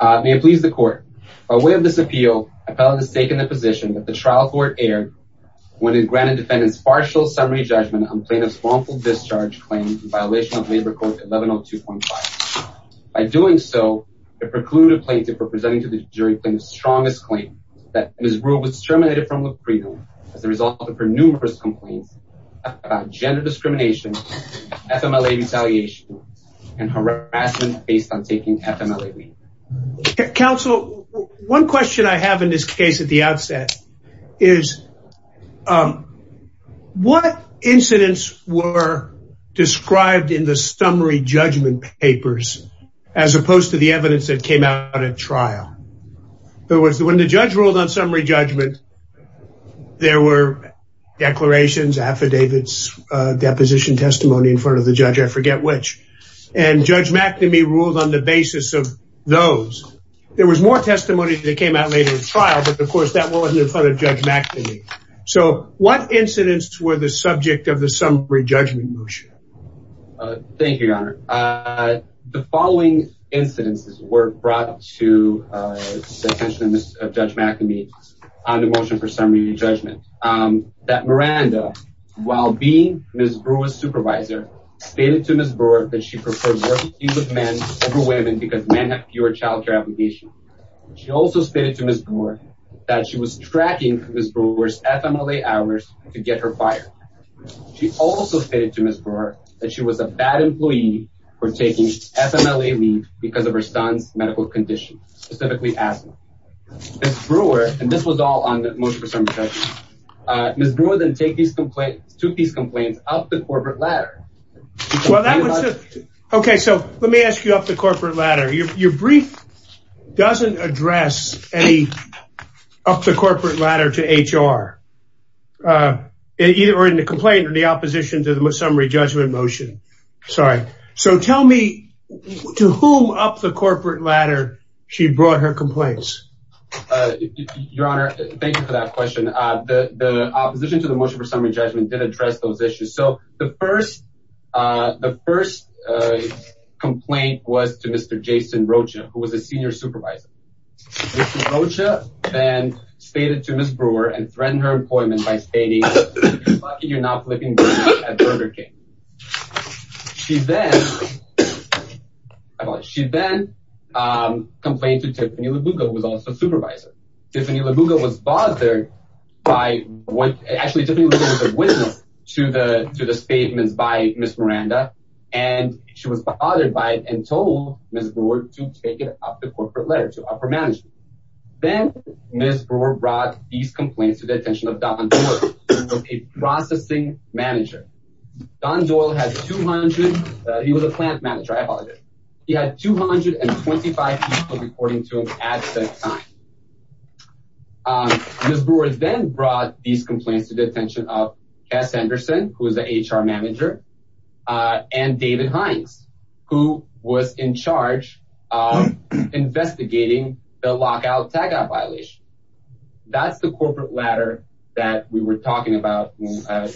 May it please the court, by way of this appeal, a felon has taken the position that the trial court erred when it granted defendant's partial summary judgment on plaintiff's wrongful discharge claim in violation of Labor Code 1102.5. By doing so, it precluded plaintiff from presenting to the jury the strongest claim that Ms. Brewer was terminated from Leprino as a result of her numerous complaints about gender discrimination, FMLA retaliation, and harassment based on taking FMLA. Counsel, one question I have in this case at the outset is what incidents were described in the summary judgment papers as opposed to the evidence that came out at trial? When the judge ruled on summary judgment, there were declarations, affidavits, deposition testimony in front of the judge, I forget which, and Judge McNamee ruled on the basis of those. There was more testimony that came out later in trial, but of course that wasn't in front of Judge McNamee. So, what incidents were the subject of the summary judgment motion? Thank you, Your Honor. The following incidents were brought to the attention of Judge McNamee on the motion for summary judgment. That Miranda, while being Ms. Brewer's supervisor, stated to Ms. Brewer that she preferred working with men over women because men have fewer child care applications. She also stated to Ms. Brewer that she was tracking Ms. Brewer's FMLA hours to get her fired. She also stated to Ms. Brewer that she was a bad employee for taking FMLA leave because of her son's medical condition, specifically asthma. Ms. Brewer, and this was all on the motion for summary judgment, Ms. Brewer then took these complaints up the corporate ladder. Okay, so let me ask you up the corporate ladder. Your brief doesn't address up the corporate ladder to HR, either in the complaint or the opposition to the summary judgment motion. Sorry. So, tell me to whom up the corporate ladder she brought her complaints? Your Honor, thank you for that question. The opposition to the motion for summary judgment did address those issues. So, the first complaint was to Mr. Jason Rocha, who was a senior supervisor. Mr. Rocha then stated to Ms. Brewer and threatened her employment by stating, you're lucky you're not flipping burgers at Burger King. She then complained to Tiffany Lubuga, who was also a supervisor. Tiffany Lubuga was a witness to the statements by Ms. Miranda, and she was bothered by it and told Ms. Brewer to take it up the corporate ladder to upper management. Then Ms. Brewer brought these complaints to the attention of Don Doyle, who was a processing manager. Don Doyle was a plant manager. He had 225 people reporting to him at that time. Ms. Brewer then brought these complaints to the attention of Cass Anderson, who was the HR manager, and David Hines, who was in charge of investigating the lockout tagout violation. That's the corporate ladder that we were talking about. I'm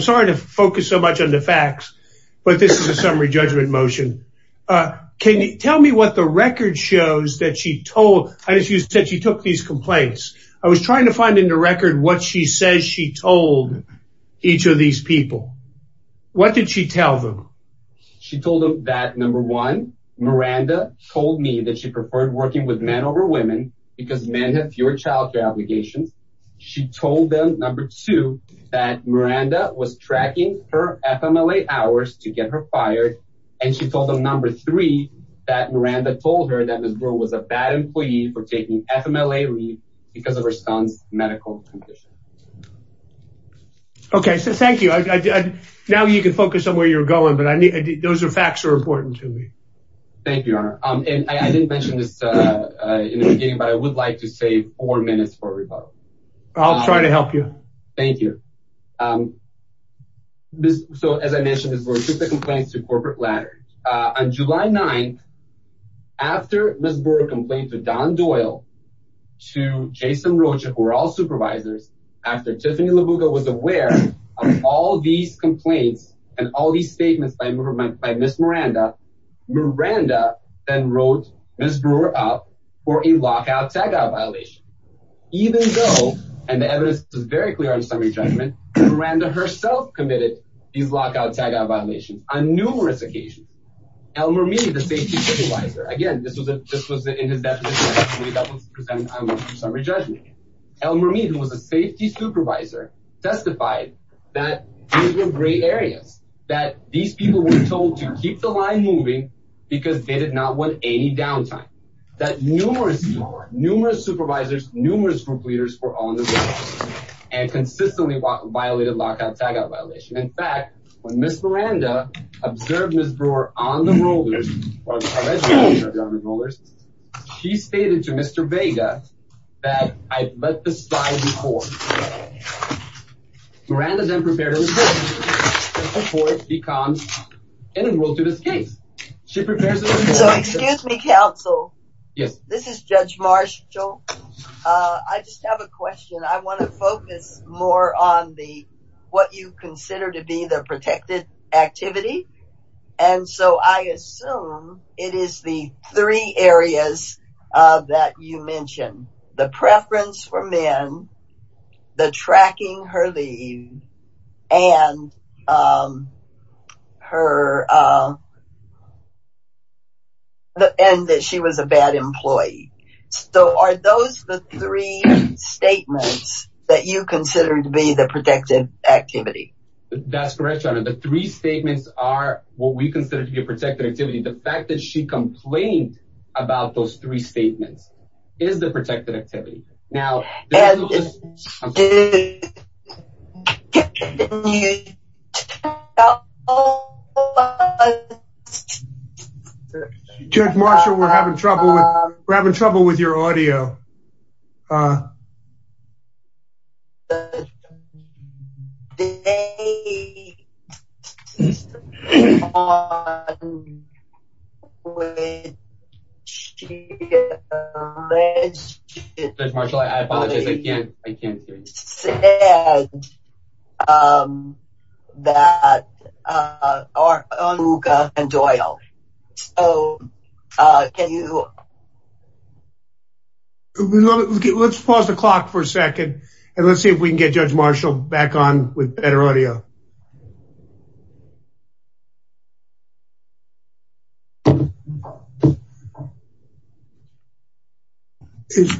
sorry to focus so much on the facts, but this is a summary judgment motion. Can you tell me what the record shows that she took these complaints? I was trying to find in the record what she says she told each of these people. What did she tell them? She told them that, number one, Miranda told me that she preferred working with men over women because men have fewer child care obligations. She told them, number two, that Miranda was tracking her FMLA hours to get her fired. And she told them, number three, that Miranda told her that Ms. Brewer was a bad employee for taking FMLA leave because of her son's medical condition. Okay, so thank you. Now you can focus on where you're going, but those are facts that are important to me. Thank you, Your Honor. I didn't mention this in the beginning, but I would like to save four minutes for rebuttal. I'll try to help you. Thank you. So, as I mentioned, Ms. Brewer took the complaints to the corporate ladder. On July 9th, after Ms. Brewer complained to Don Doyle, to Jason Rocha, who were all supervisors, after Tiffany LaBuga was aware of all these complaints and all these statements by Ms. Miranda, Miranda then wrote Ms. Brewer up for a lockout tagout violation. Even though, and the evidence is very clear on summary judgment, Miranda herself committed these lockout tagout violations on numerous occasions. Elmer Meade, the safety supervisor, again, this was in his definition. Elmer Meade, who was a safety supervisor, testified that these were gray areas, that these people were told to keep the line moving because they did not want any downtime. He testified that numerous supervisors, numerous group leaders were on the roll and consistently violated lockout tagout violations. In fact, when Ms. Miranda observed Ms. Brewer on the rollers, she stated to Mr. Vega that I'd let this slide before. Miranda then prepared a report before it becomes integral to this case. So, excuse me, counsel. This is Judge Marshall. I just have a question. I want to focus more on what you consider to be the protected activity. And so I assume it is the three areas that you mentioned. The preference for men, the tracking her leave, and that she was a bad employee. So, are those the three statements that you consider to be the protected activity? That's correct, your honor. The three statements are what we consider to be a protected activity. The fact that she complained about those three statements is the protected activity. Judge Marshall, we're having trouble with your audio. Judge Marshall, I apologize. I can't hear you. Judge Marshall said that Olga and Doyle. Let's pause the clock for a second and let's see if we can get Judge Marshall back on with better audio.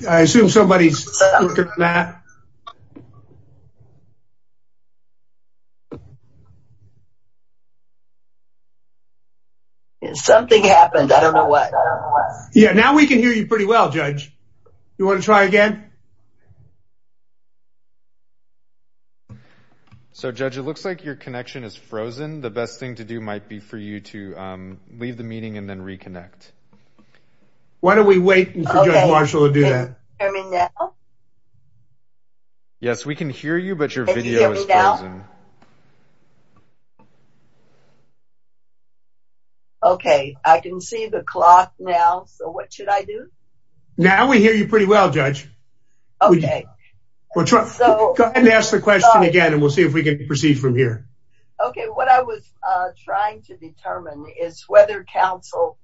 I assume somebody's looking for that. Something happened. I don't know what. Yeah, now we can hear you pretty well, Judge. You want to try again? So, Judge, it looks like your connection is frozen. The best thing to do might be for you to leave the meeting and then reconnect. Why don't we wait for Judge Marshall to do that? Yes, we can hear you, but your video is frozen. Okay, I can see the clock now. So what should I do? Now we hear you pretty well, Judge. Okay. Go ahead and ask the question again and we'll see if we can proceed from here. Okay, what I was trying to determine is whether counsel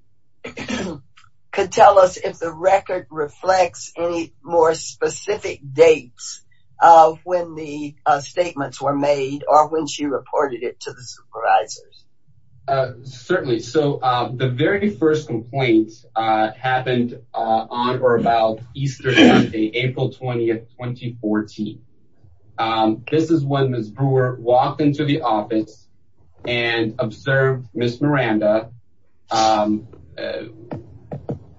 could tell us if the record reflects any more specific dates of when the statements were made or when she reported it to the supervisors. Certainly. So the very first complaints happened on or about Easter Sunday, April 20th, 2014. This is when Ms. Brewer walked into the office and observed Ms. Miranda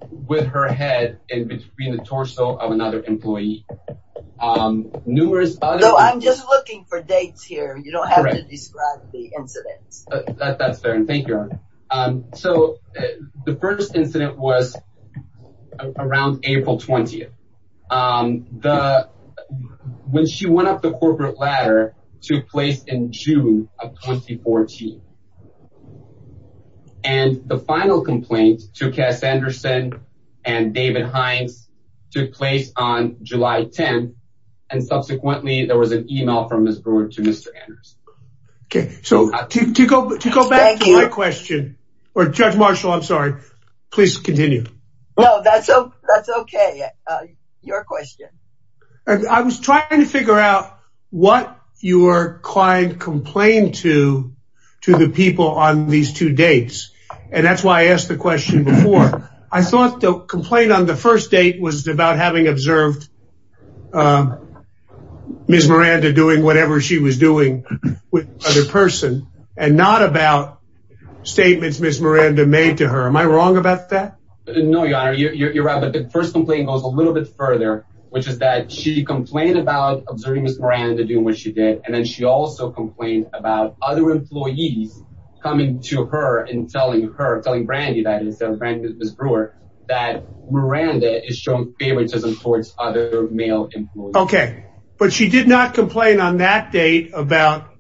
with her head in between the torso of another employee. No, I'm just looking for dates here. You don't have to describe the incidents. That's fair. Thank you. So the first incident was around April 20th, when she went up the corporate ladder to place in June of 2014. And the final complaint to Cass Anderson and David Hines took place on July 10th, and subsequently there was an email from Ms. Brewer to Mr. Anderson. Okay, so to go back to my question, or Judge Marshall, I'm sorry, please continue. No, that's okay. Your question. I was trying to figure out what your client complained to, to the people on these two dates, and that's why I asked the question before. I thought the complaint on the first date was about having observed Ms. Miranda doing whatever she was doing with another person and not about statements Ms. Miranda made to her. Am I wrong about that? No, Your Honor, you're right, but the first complaint goes a little bit further, which is that she complained about observing Ms. Miranda doing what she did, and then she also complained about other employees coming to her and telling her, telling Brandy that instead of Brandy, Ms. Brewer, that Miranda is showing favoritism towards other male employees. Okay, but she did not complain on that date about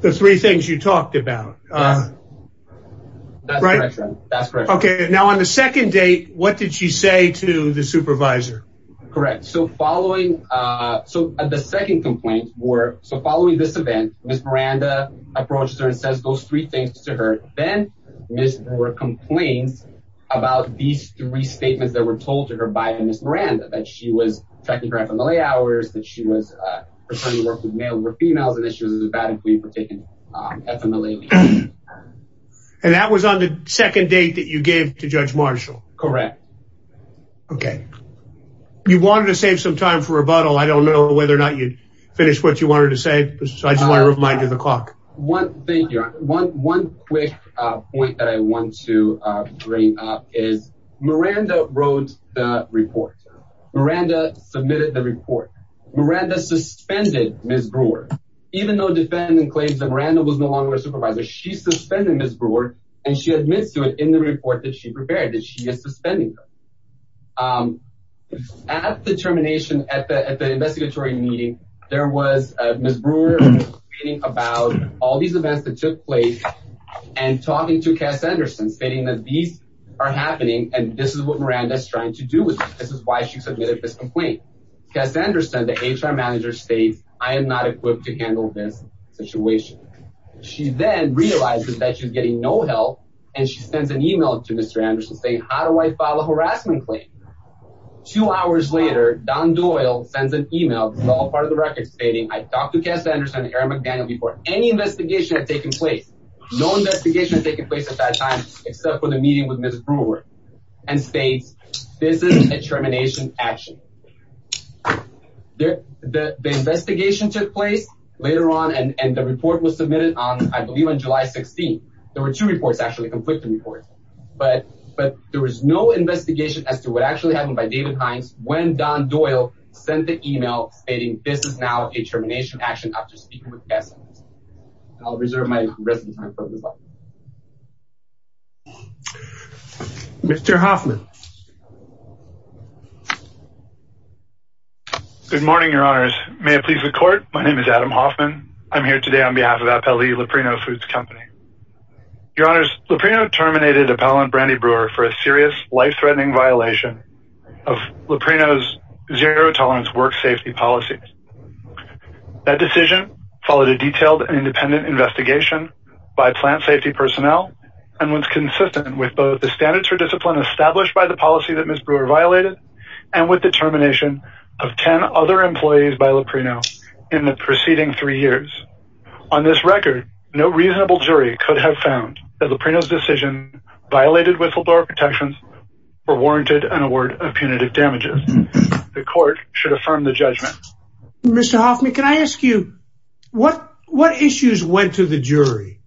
the three things you talked about. That's correct, Your Honor. Okay, now on the second date, what did she say to the supervisor? Correct, so following, so the second complaint were, so following this event, Ms. Miranda approached her and says those three things to her. Then Ms. Brewer complains about these three statements that were told to her by Ms. Miranda, that she was checking her FMLA hours, that she was pretending to work with male females, and that she was a bad employee for taking FMLA leave. And that was on the second date that you gave to Judge Marshall? Correct. Okay, you wanted to save some time for rebuttal. I don't know whether or not you'd finish what you wanted to say, so I just want to remind you of the clock. One thing, Your Honor, one quick point that I want to bring up is Miranda wrote the report. Miranda submitted the report. Miranda suspended Ms. Brewer, even though the defendant claims that Miranda was no longer a supervisor. She suspended Ms. Brewer, and she admits to it in the report that she prepared, that she is suspending her. At the termination, at the investigatory meeting, there was Ms. Brewer complaining about all these events that took place and talking to Cass Anderson, stating that these are happening, and this is what Miranda is trying to do with this. This is why she submitted this complaint. Cass Anderson, the HR manager, states, I am not equipped to handle this situation. She then realizes that she's getting no help, and she sends an email to Mr. Anderson, saying, how do I file a harassment claim? Two hours later, Don Doyle sends an email, this is all part of the record, stating, I talked to Cass Anderson and Aaron McDaniel before any investigation had taken place. No investigation had taken place at that time, except for the meeting with Ms. Brewer, and states, this is a termination action. The investigation took place later on, and the report was submitted on, I believe, on July 16th. There were two reports, actually, conflicting reports, but there was no investigation as to what actually happened by David Hines when Don Doyle sent the email, stating, this is now a termination action after speaking with Cass Anderson. I'll reserve my residence time for this item. Mr. Hoffman. Good morning, your honors. May it please the court, my name is Adam Hoffman. I'm here today on behalf of Appellee Leprino Foods Company. Your honors, Leprino terminated appellant Brandi Brewer for a serious, life-threatening violation of Leprino's zero-tolerance work safety policies. That decision followed a detailed and independent investigation by plant safety personnel, and was consistent with both the standards for discipline established by the policy that Ms. Brewer violated, and with the termination of 10 other employees by Leprino in the preceding three years. On this record, no reasonable jury could have found that Leprino's decision violated whistleblower protections or warranted an award of punitive damages. The court should affirm the judgment. Mr. Hoffman, can I ask you, what issues went to the jury?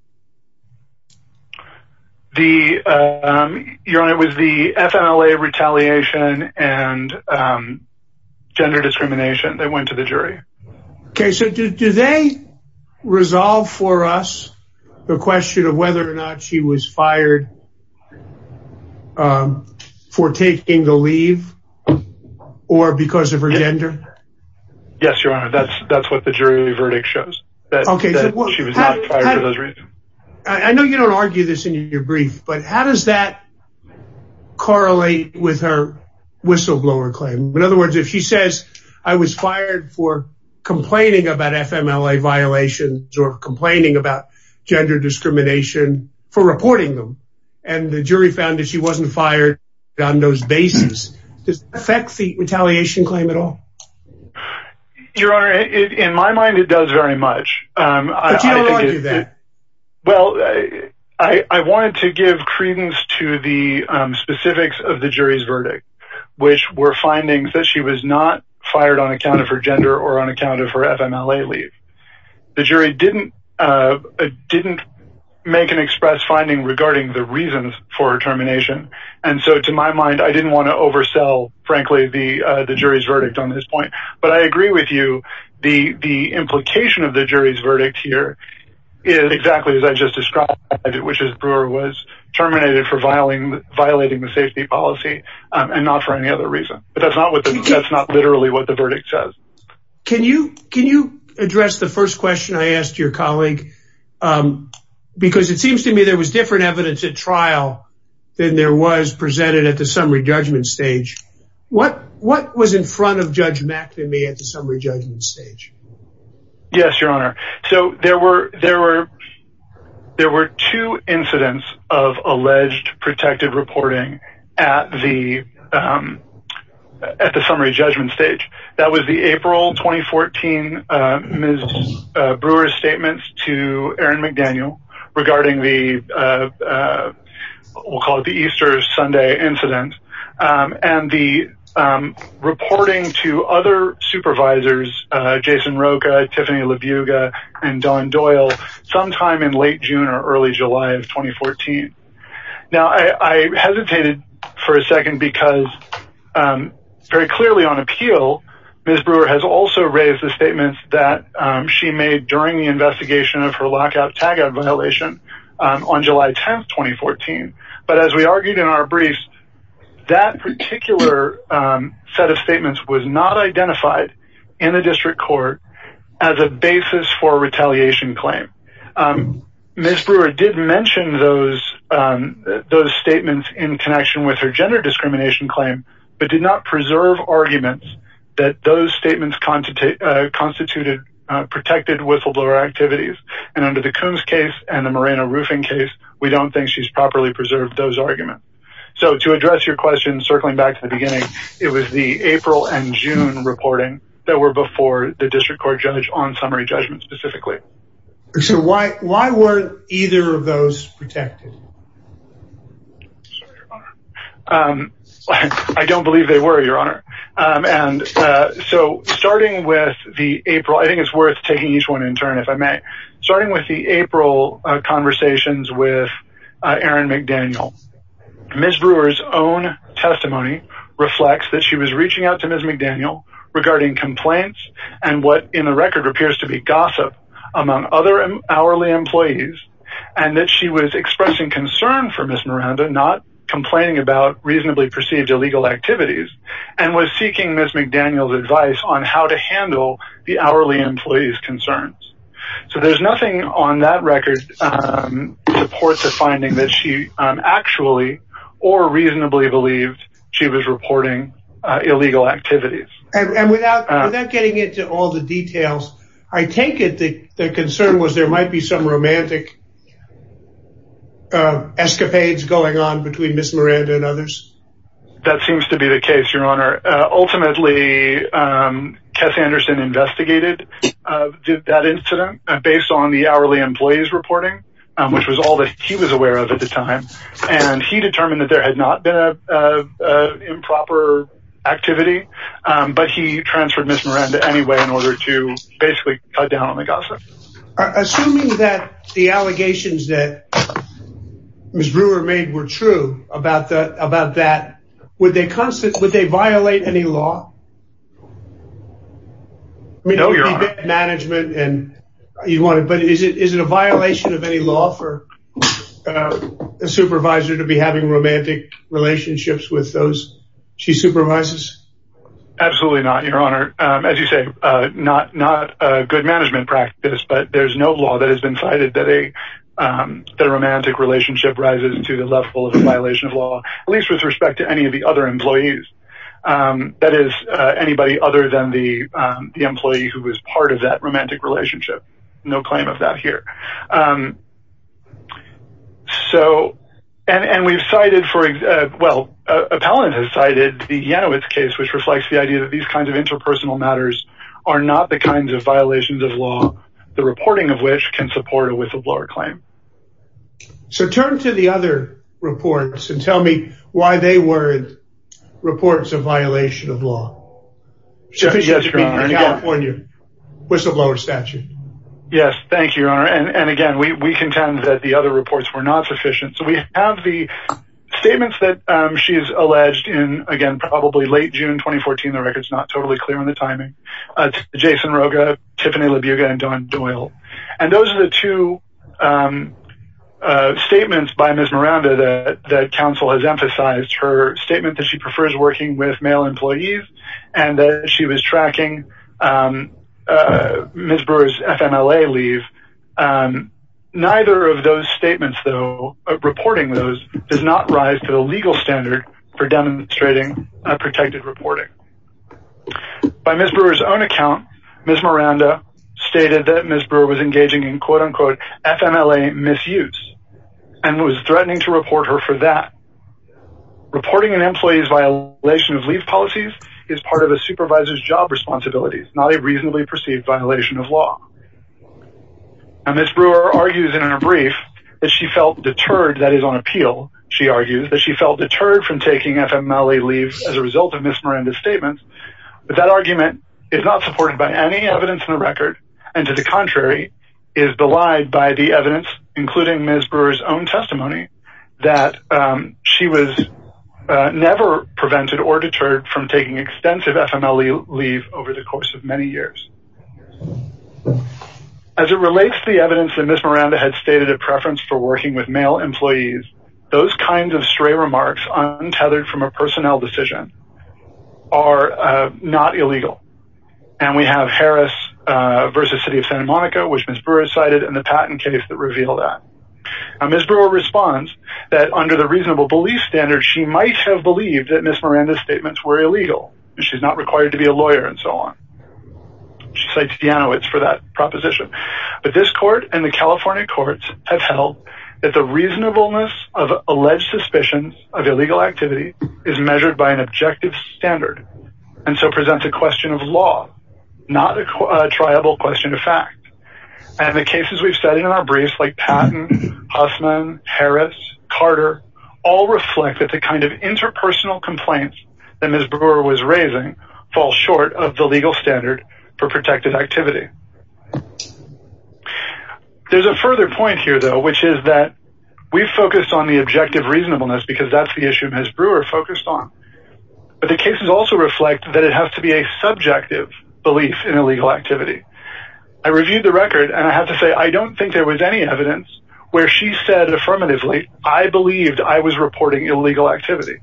Your honor, it was the FMLA retaliation and gender discrimination that went to the jury. Okay, so do they resolve for us the question of whether or not she was fired for taking the leave, or because of her gender? Yes, your honor, that's what the jury verdict shows. Okay, I know you don't argue this in your brief, but how does that correlate with her whistleblower claim? In other words, if she says, I was fired for complaining about FMLA violations or complaining about gender discrimination for reporting them, and the jury found that she wasn't fired on those bases, does that affect the retaliation claim at all? Your honor, in my mind, it does very much. But you don't argue that. Well, I wanted to give credence to the specifics of the jury's verdict, which were findings that she was not fired on account of her gender or on account of her FMLA leave. The jury didn't make an express finding regarding the reasons for her termination, and so to my mind, I didn't want to oversell, frankly, the jury's verdict on this point. But I agree with you, the implication of the jury's verdict here is exactly as I just described, which is Brewer was terminated for violating the safety policy, and not for any other reason. But that's not literally what the verdict says. Can you address the first question I asked your colleague? Because it seems to me there was different evidence at trial than there was presented at the summary judgment stage. What was in front of Judge McNamee at the summary judgment stage? Yes, your honor. So there were two incidents of alleged protected reporting at the summary judgment stage. That was the April 2014 Ms. Brewer's statements to Aaron McDaniel regarding the, we'll call it the Easter Sunday incident. And the reporting to other supervisors, Jason Rocha, Tiffany Labuga, and Don Doyle, sometime in late June or early July of 2014. Now, I hesitated for a second because very clearly on appeal, Ms. Brewer has also raised the statements that she made during the investigation of her lockout tagout violation on July 10, 2014. But as we argued in our briefs, that particular set of statements was not identified in the district court as a basis for retaliation claim. Ms. Brewer did mention those statements in connection with her gender discrimination claim, but did not preserve arguments that those statements constituted protected whistleblower activities. And under the Coons case and the Moreno roofing case, we don't think she's properly preserved those arguments. So to address your question, circling back to the beginning, it was the April and June reporting that were before the district court judge on summary judgment specifically. So why weren't either of those protected? I don't believe they were, your honor. And so starting with the April, I think it's worth taking each one in turn, if I may. Starting with the April conversations with Aaron McDaniel, Ms. Brewer's own testimony reflects that she was reaching out to Ms. McDaniel regarding complaints and what in the record appears to be gossip. Among other hourly employees and that she was expressing concern for Ms. Miranda, not complaining about reasonably perceived illegal activities and was seeking Ms. McDaniel's advice on how to handle the hourly employees concerns. So there's nothing on that record to support the finding that she actually or reasonably believed she was reporting illegal activities. And without getting into all the details, I take it the concern was there might be some romantic escapades going on between Ms. Miranda and others. That seems to be the case, your honor. Ultimately, Cass Anderson investigated that incident based on the hourly employees reporting, which was all that he was aware of at the time. And he determined that there had not been a improper activity, but he transferred Ms. Miranda anyway in order to basically cut down on the gossip. Assuming that the allegations that Ms. Brewer made were true about that, would they violate any law? No, your honor. But is it a violation of any law for a supervisor to be having romantic relationships with those she supervises? Absolutely not, your honor. As you say, not a good management practice, but there's no law that has been cited that a romantic relationship rises to the level of a violation of law, at least with respect to any of the other employees. That is anybody other than the employee who was part of that romantic relationship. No claim of that here. So, and we've cited for, well, appellant has cited the Yanowitz case, which reflects the idea that these kinds of interpersonal matters are not the kinds of violations of law, the reporting of which can support a whistleblower claim. So turn to the other reports and tell me why they were reports of violation of law. Yes, your honor. In California, whistleblower statute. Yes, thank you, your honor. And again, we contend that the other reports were not sufficient. So we have the statements that she's alleged in, again, probably late June 2014. The record's not totally clear on the timing. Jason Roga, Tiffany Labuga, and Dawn Doyle. And those are the two statements by Ms. Miranda that council has emphasized her statement that she prefers working with male employees and that she was tracking Ms. Brewer's FMLA leave. Neither of those statements, though, reporting those does not rise to the legal standard for demonstrating a protected reporting. By Ms. Brewer's own account, Ms. Miranda stated that Ms. Brewer was engaging in quote unquote FMLA misuse and was threatening to report her for that. Reporting an employee's violation of leave policies is part of a supervisor's job responsibilities, not a reasonably perceived violation of law. Ms. Brewer argues in her brief that she felt deterred, that is on appeal, she argues, that she felt deterred from taking FMLA leave as a result of Ms. Miranda's statements. But that argument is not supported by any evidence in the record and to the contrary is belied by the evidence, including Ms. Brewer's own testimony, that she was never prevented or deterred from taking extensive FMLA leave over the course of many years. As it relates to the evidence that Ms. Miranda had stated a preference for working with male employees, those kinds of stray remarks untethered from a personnel decision are not illegal. And we have Harris v. City of Santa Monica, which Ms. Brewer cited, and the patent case that revealed that. Ms. Brewer responds that under the reasonable belief standard, she might have believed that Ms. Miranda's statements were illegal and she's not required to be a lawyer and so on. She cites Janowitz for that proposition. But this court and the California courts have held that the reasonableness of alleged suspicions of illegal activity is measured by an objective standard and so presents a question of law, not a triable question of fact. And the cases we've studied in our briefs, like Patton, Huffman, Harris, Carter, all reflect that the kind of interpersonal complaints that Ms. Brewer was raising fall short of the legal standard for protected activity. There's a further point here, though, which is that we've focused on the objective reasonableness because that's the issue Ms. Brewer focused on. But the cases also reflect that it has to be a subjective belief in illegal activity. I reviewed the record and I have to say, I don't think there was any evidence where she said affirmatively, I believed I was reporting illegal activity.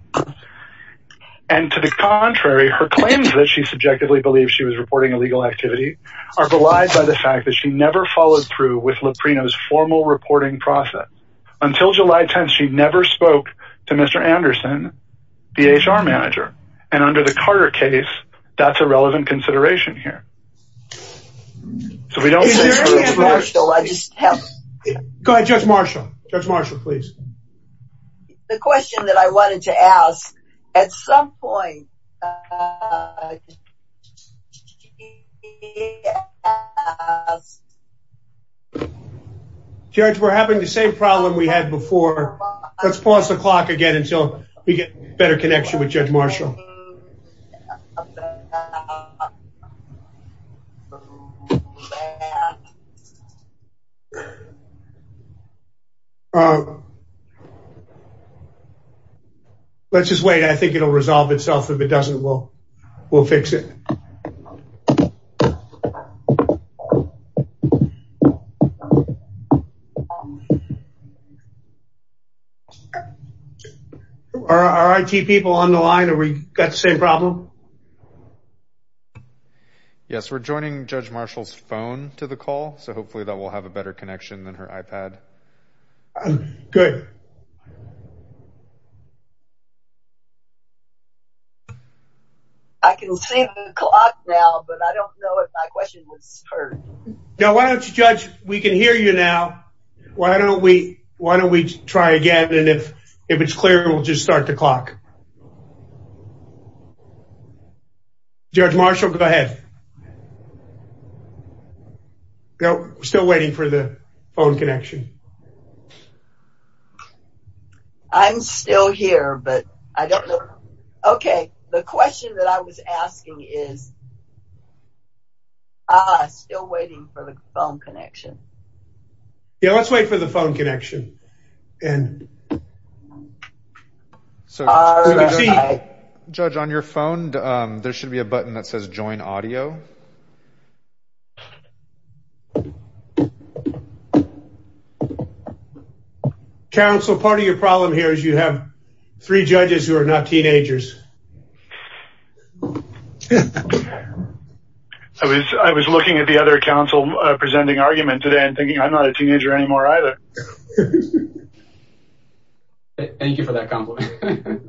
And to the contrary, her claims that she subjectively believes she was reporting illegal activity are belied by the fact that she never followed through with Laprino's formal reporting process. Until July 10th, she never spoke to Mr. Anderson, the HR manager, and under the Carter case, that's a relevant consideration here. Judge Marshall, I just have... Go ahead, Judge Marshall. Judge Marshall, please. The question that I wanted to ask, at some point... Judge, we're having the same problem we had before. Let's pause the clock again until we get better connection with Judge Marshall. Let's just wait. I think it'll resolve itself. If it doesn't, we'll fix it. Are our IT people on the line? Are we got the same problem? Yes, we're joining Judge Marshall's phone to the call, so hopefully that will have a better connection than her iPad. Good. I can see the clock now, but I don't know if my question was heard. No, why don't you, Judge, we can hear you now. Why don't we try again and if it's clear, we'll just start the clock. Judge Marshall, go ahead. We're still waiting for the phone connection. I'm still here, but I don't know... Okay, the question that I was asking is... Ah, still waiting for the phone connection. Yeah, let's wait for the phone connection. So, Judge, on your phone, there should be a button that says join audio. Council, part of your problem here is you have three judges who are not teenagers. I was looking at the other council presenting argument today and thinking I'm not a teenager anymore either. Thank you for that compliment.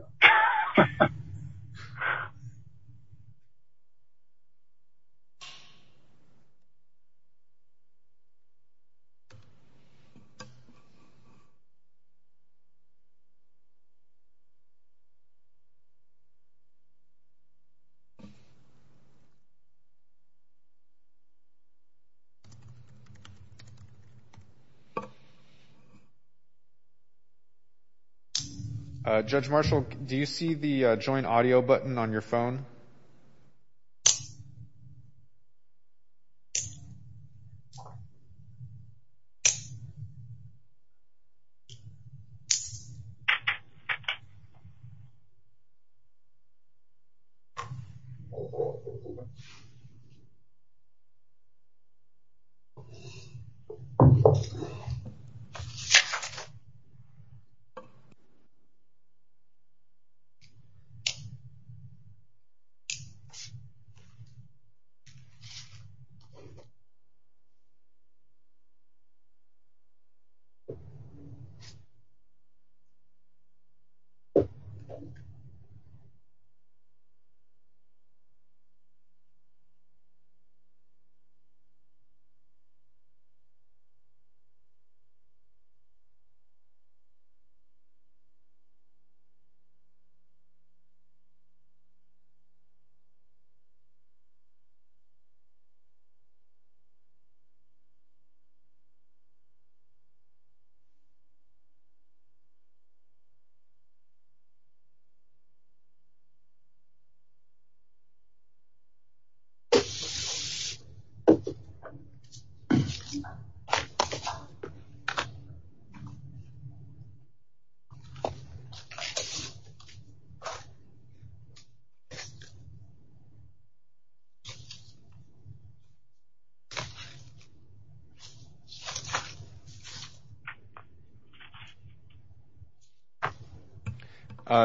Judge Marshall, do you see the join audio button on your phone? Okay. Okay. Okay.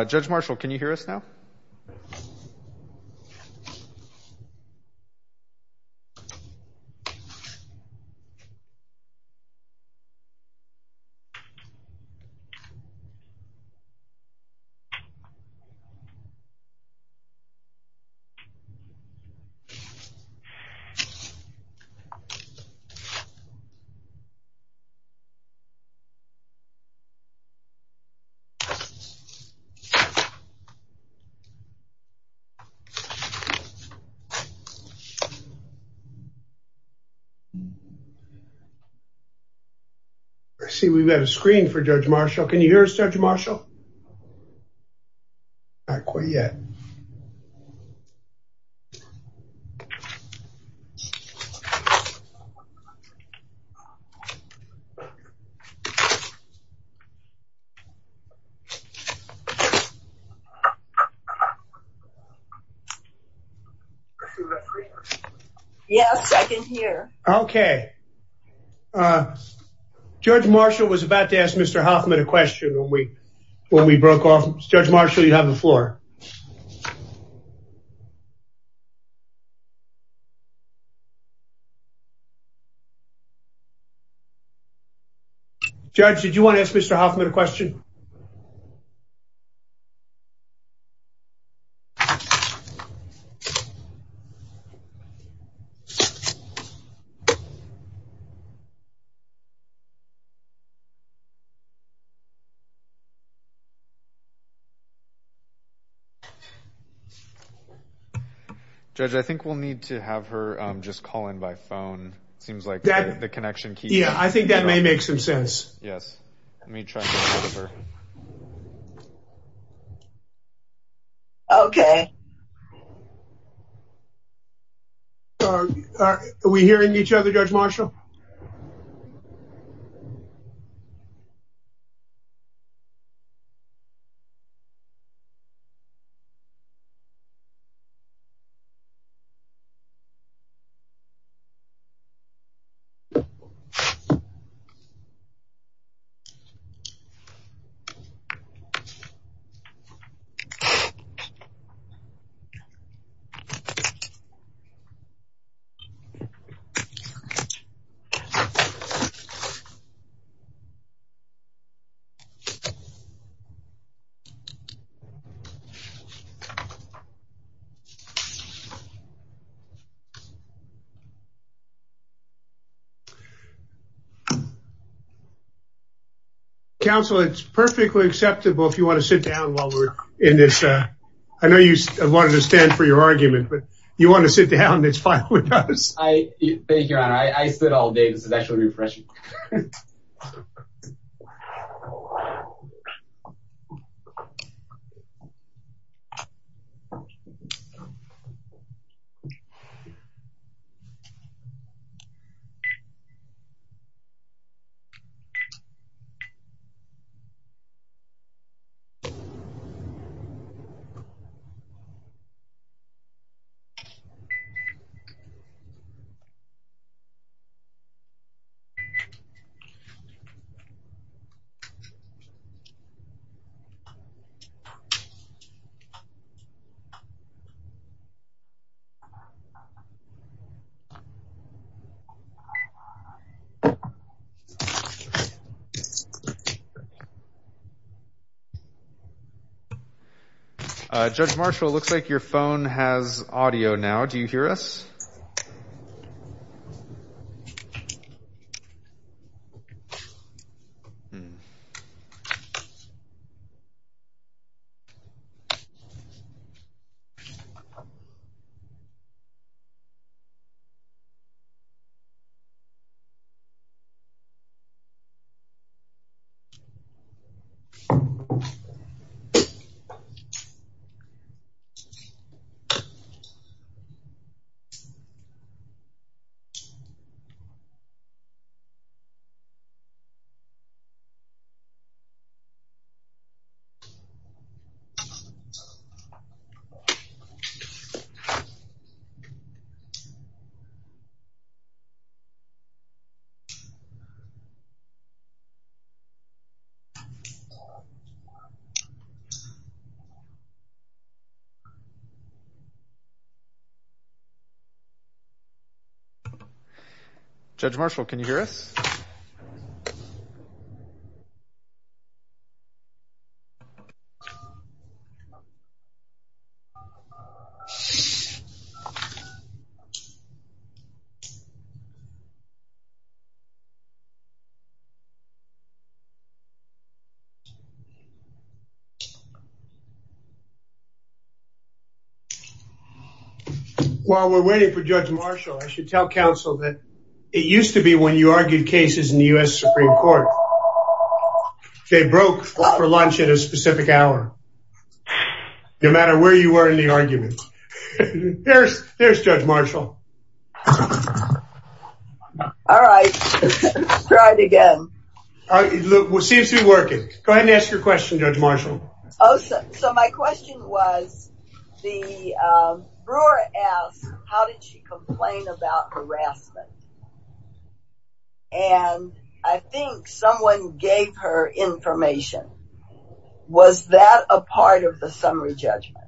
Judge Marshall, can you hear us now? No. Okay. I see we've got a screen for Judge Marshall. Can you hear us, Judge Marshall? Not quite yet. Yes, I can hear. Okay. Judge Marshall was about to ask Mr. Hoffman a question when we broke off. Judge Marshall, you have the floor. Judge, did you want to ask Mr. Hoffman a question? No. Judge, I think we'll need to have her just call in by phone. It seems like the connection keeps... Yeah, I think that may make some sense. Yes. Let me try to get a hold of her. Okay. Are we hearing each other, Judge Marshall? No. Okay. Counsel, it's perfectly acceptable if you want to sit down while we're in this... I know you wanted to stand for your argument, but if you want to sit down, it's fine with us. Thank you, Your Honor. I stood all day. This is actually refreshing. Okay. Judge Marshall, it looks like your phone has audio now. Do you hear us? Okay. Okay. Judge Marshall, can you hear us? Okay. While we're waiting for Judge Marshall, I should tell counsel that it used to be when you argued cases in the U.S. Supreme Court, they broke for lunch at a specific hour. No matter where you were in the argument. There's Judge Marshall. All right. Let's try it again. It seems to be working. Go ahead and ask your question, Judge Marshall. So my question was, Brewer asked, how did she complain about harassment? And I think someone gave her information. Was that a part of the summary judgment?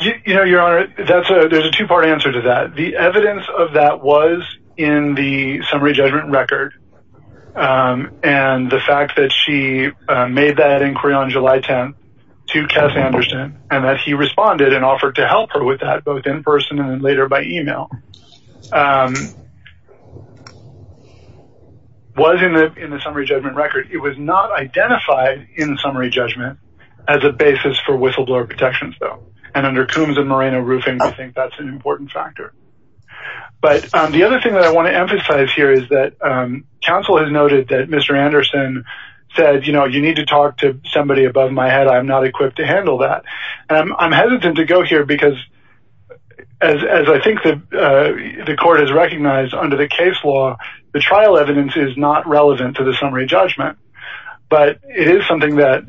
You know, Your Honor, there's a two-part answer to that. The evidence of that was in the summary judgment record. And the fact that she made that inquiry on July 10th to Cass Anderson, and that he responded and offered to help her with that, both in person and later by email, was in the summary judgment record. It was not identified in the summary judgment as a basis for whistleblower protections, though. And under Coombs and Moreno roofing, I think that's an important factor. But the other thing that I want to emphasize here is that counsel has noted that Mr. Anderson said, you know, you need to talk to somebody above my head. I'm not equipped to handle that. And I'm hesitant to go here because, as I think the court has recognized under the case law, the trial evidence is not relevant to the summary judgment. But it is something that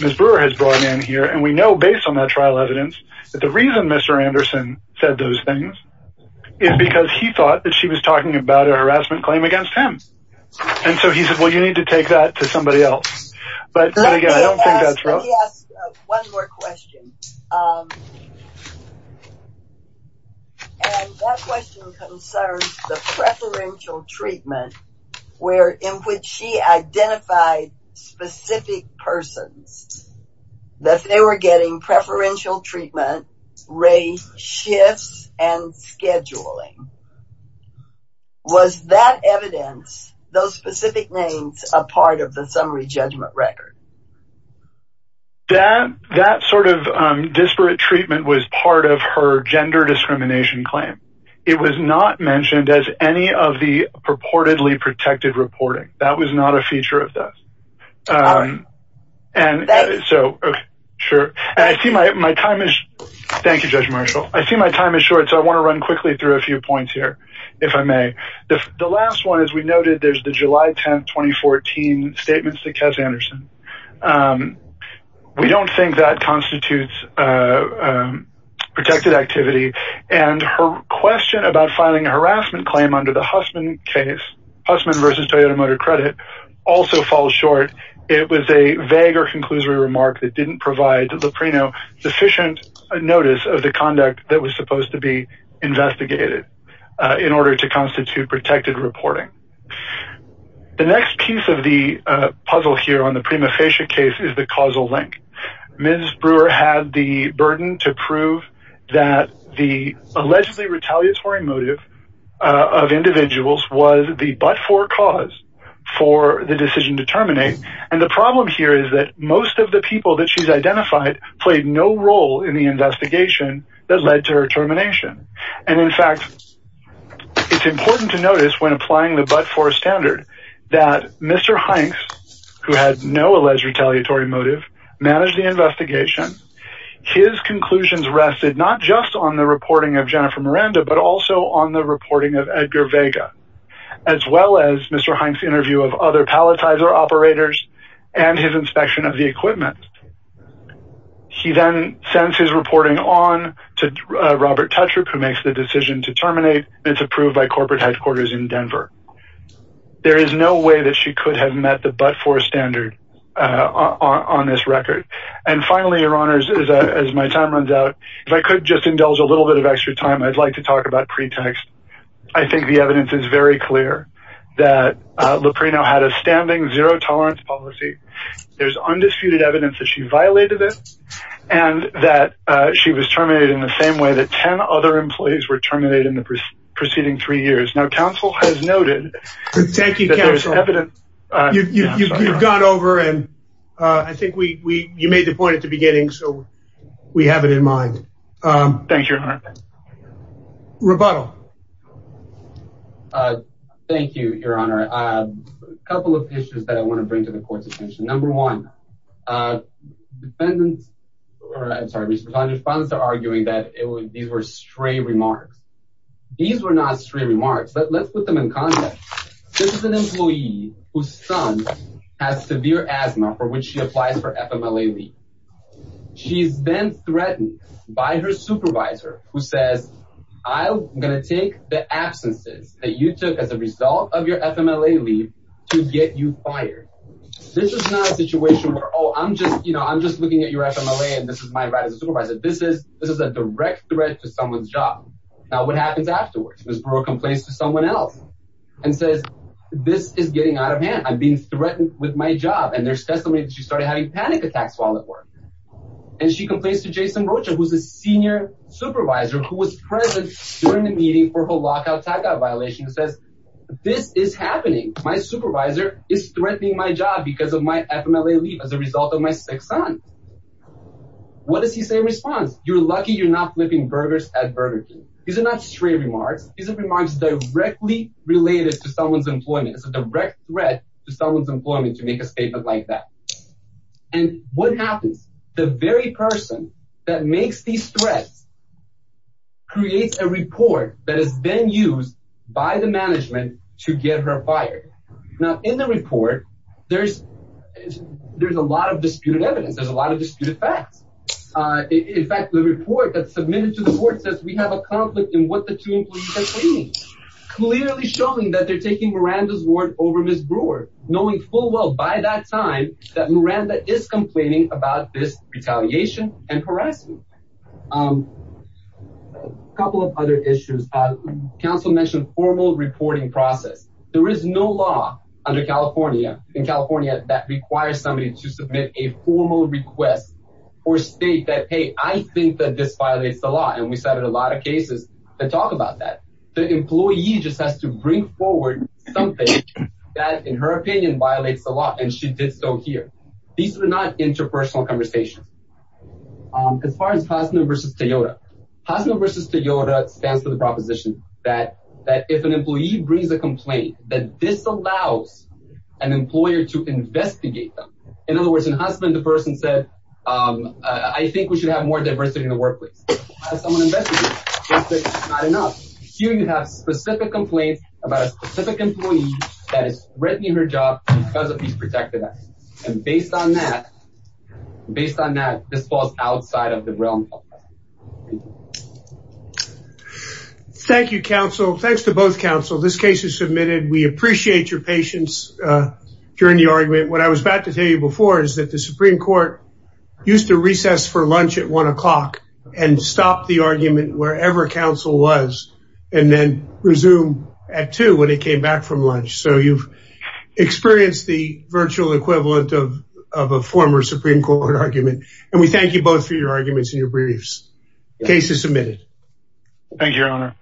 Ms. Brewer has brought in here. And we know, based on that trial evidence, that the reason Mr. Anderson said those things is because he thought that she was talking about a harassment claim against him. And so he said, well, you need to take that to somebody else. But again, I don't think that's true. Let me ask one more question. And that question concerns the preferential treatment in which she identified specific persons. That they were getting preferential treatment, rate shifts, and scheduling. Was that evidence, those specific names, a part of the summary judgment record? That sort of disparate treatment was part of her gender discrimination claim. It was not mentioned as any of the purportedly protected reporting. That was not a feature of this. And so, okay, sure. And I see my time is short. Thank you, Judge Marshall. I see my time is short, so I want to run quickly through a few points here, if I may. The last one, as we noted, there's the July 10th, 2014 statements to Kez Anderson. We don't think that constitutes protected activity. And her question about filing a harassment claim under the Hussman case, Hussman versus Toyota Motor Credit, also falls short. It was a vague or conclusory remark that didn't provide Loprino sufficient notice of the conduct that was supposed to be investigated in order to constitute protected reporting. The next piece of the puzzle here on the Prima Facie case is the causal link. Ms. Brewer had the burden to prove that the allegedly retaliatory motive of individuals was the but-for cause for the decision to terminate. And the problem here is that most of the people that she's identified played no role in the investigation that led to her termination. And in fact, it's important to notice when applying the but-for standard that Mr. Hanks, who had no alleged retaliatory motive, managed the investigation. His conclusions rested not just on the reporting of Jennifer Miranda, but also on the reporting of Edgar Vega, as well as Mr. Hanks' interview of other palletizer operators and his inspection of the equipment. He then sends his reporting on to Robert Tetrick, who makes the decision to terminate. It's approved by corporate headquarters in Denver. There is no way that she could have met the but-for standard on this record. And finally, Your Honors, as my time runs out, if I could just indulge a little bit of extra time, I'd like to talk about pretext. I think the evidence is very clear that Loprino had a standing zero-tolerance policy. There's undisputed evidence that she violated it and that she was terminated in the same way that 10 other employees were terminated in the preceding three years. Now, counsel has noted that there's evidence. Thank you, counsel. You've gone over, and I think you made the point at the beginning, so we have it in mind. Thank you, Your Honor. Rebuttal. Thank you, Your Honor. A couple of issues that I want to bring to the court's attention. Number one, defendants are arguing that these were stray remarks. These were not stray remarks, but let's put them in context. This is an employee whose son has severe asthma, for which she applies for FMLA leave. She's then threatened by her supervisor, who says, I'm going to take the absences that you took as a result of your FMLA leave to get you fired. This is not a situation where, oh, I'm just looking at your FMLA, and this is my right as a supervisor. This is a direct threat to someone's job. Now, what happens afterwards? Ms. Brewer complains to someone else and says, this is getting out of hand. I'm being threatened with my job. And there's testimony that she started having panic attacks while at work. And she complains to Jason Rocha, who's a senior supervisor, who was present during the meeting for her lockout tagout violation, who says, this is happening. My supervisor is threatening my job because of my FMLA leave as a result of my sick son. What does he say in response? You're lucky you're not flipping burgers at Burger King. These are not stray remarks. These are remarks directly related to someone's employment. It's a direct threat to someone's employment to make a statement like that. And what happens? The very person that makes these threats creates a report that has been used by the management to get her fired. Now, in the report, there's a lot of disputed evidence. There's a lot of disputed facts. In fact, the report that's submitted to the court says we have a conflict in what the two employees are claiming, clearly showing that they're taking Miranda's word over Ms. Brewer, knowing full well by that time that Miranda is complaining about this retaliation and harassment. A couple of other issues. Counsel mentioned formal reporting process. There is no law under California, in California, that requires somebody to submit a formal request or state that, hey, I think that this violates the law. And we cited a lot of cases that talk about that. The employee just has to bring forward something that, in her opinion, violates the law. And she did so here. These are not interpersonal conversations. As far as Hasna versus Toyota, Hasna versus Toyota stands for the proposition that if an employee brings a complaint, that this allows an employer to investigate them. In other words, in Hasna, the person said I think we should have more diversity in the workplace. Here you have specific complaints about a specific employee that is threatening her job because of these protected actions. And based on that, based on that, this falls outside of the realm. Thank you, counsel. Thanks to both counsel. This case is submitted. We appreciate your patience during the argument. What I was about to tell you before is that the Supreme Court used to stop the argument wherever counsel was and then resume at two when it came back from lunch. So you've experienced the virtual equivalent of a former Supreme Court argument. And we thank you both for your arguments and your briefs. The case is submitted. Thank you, Your Honor.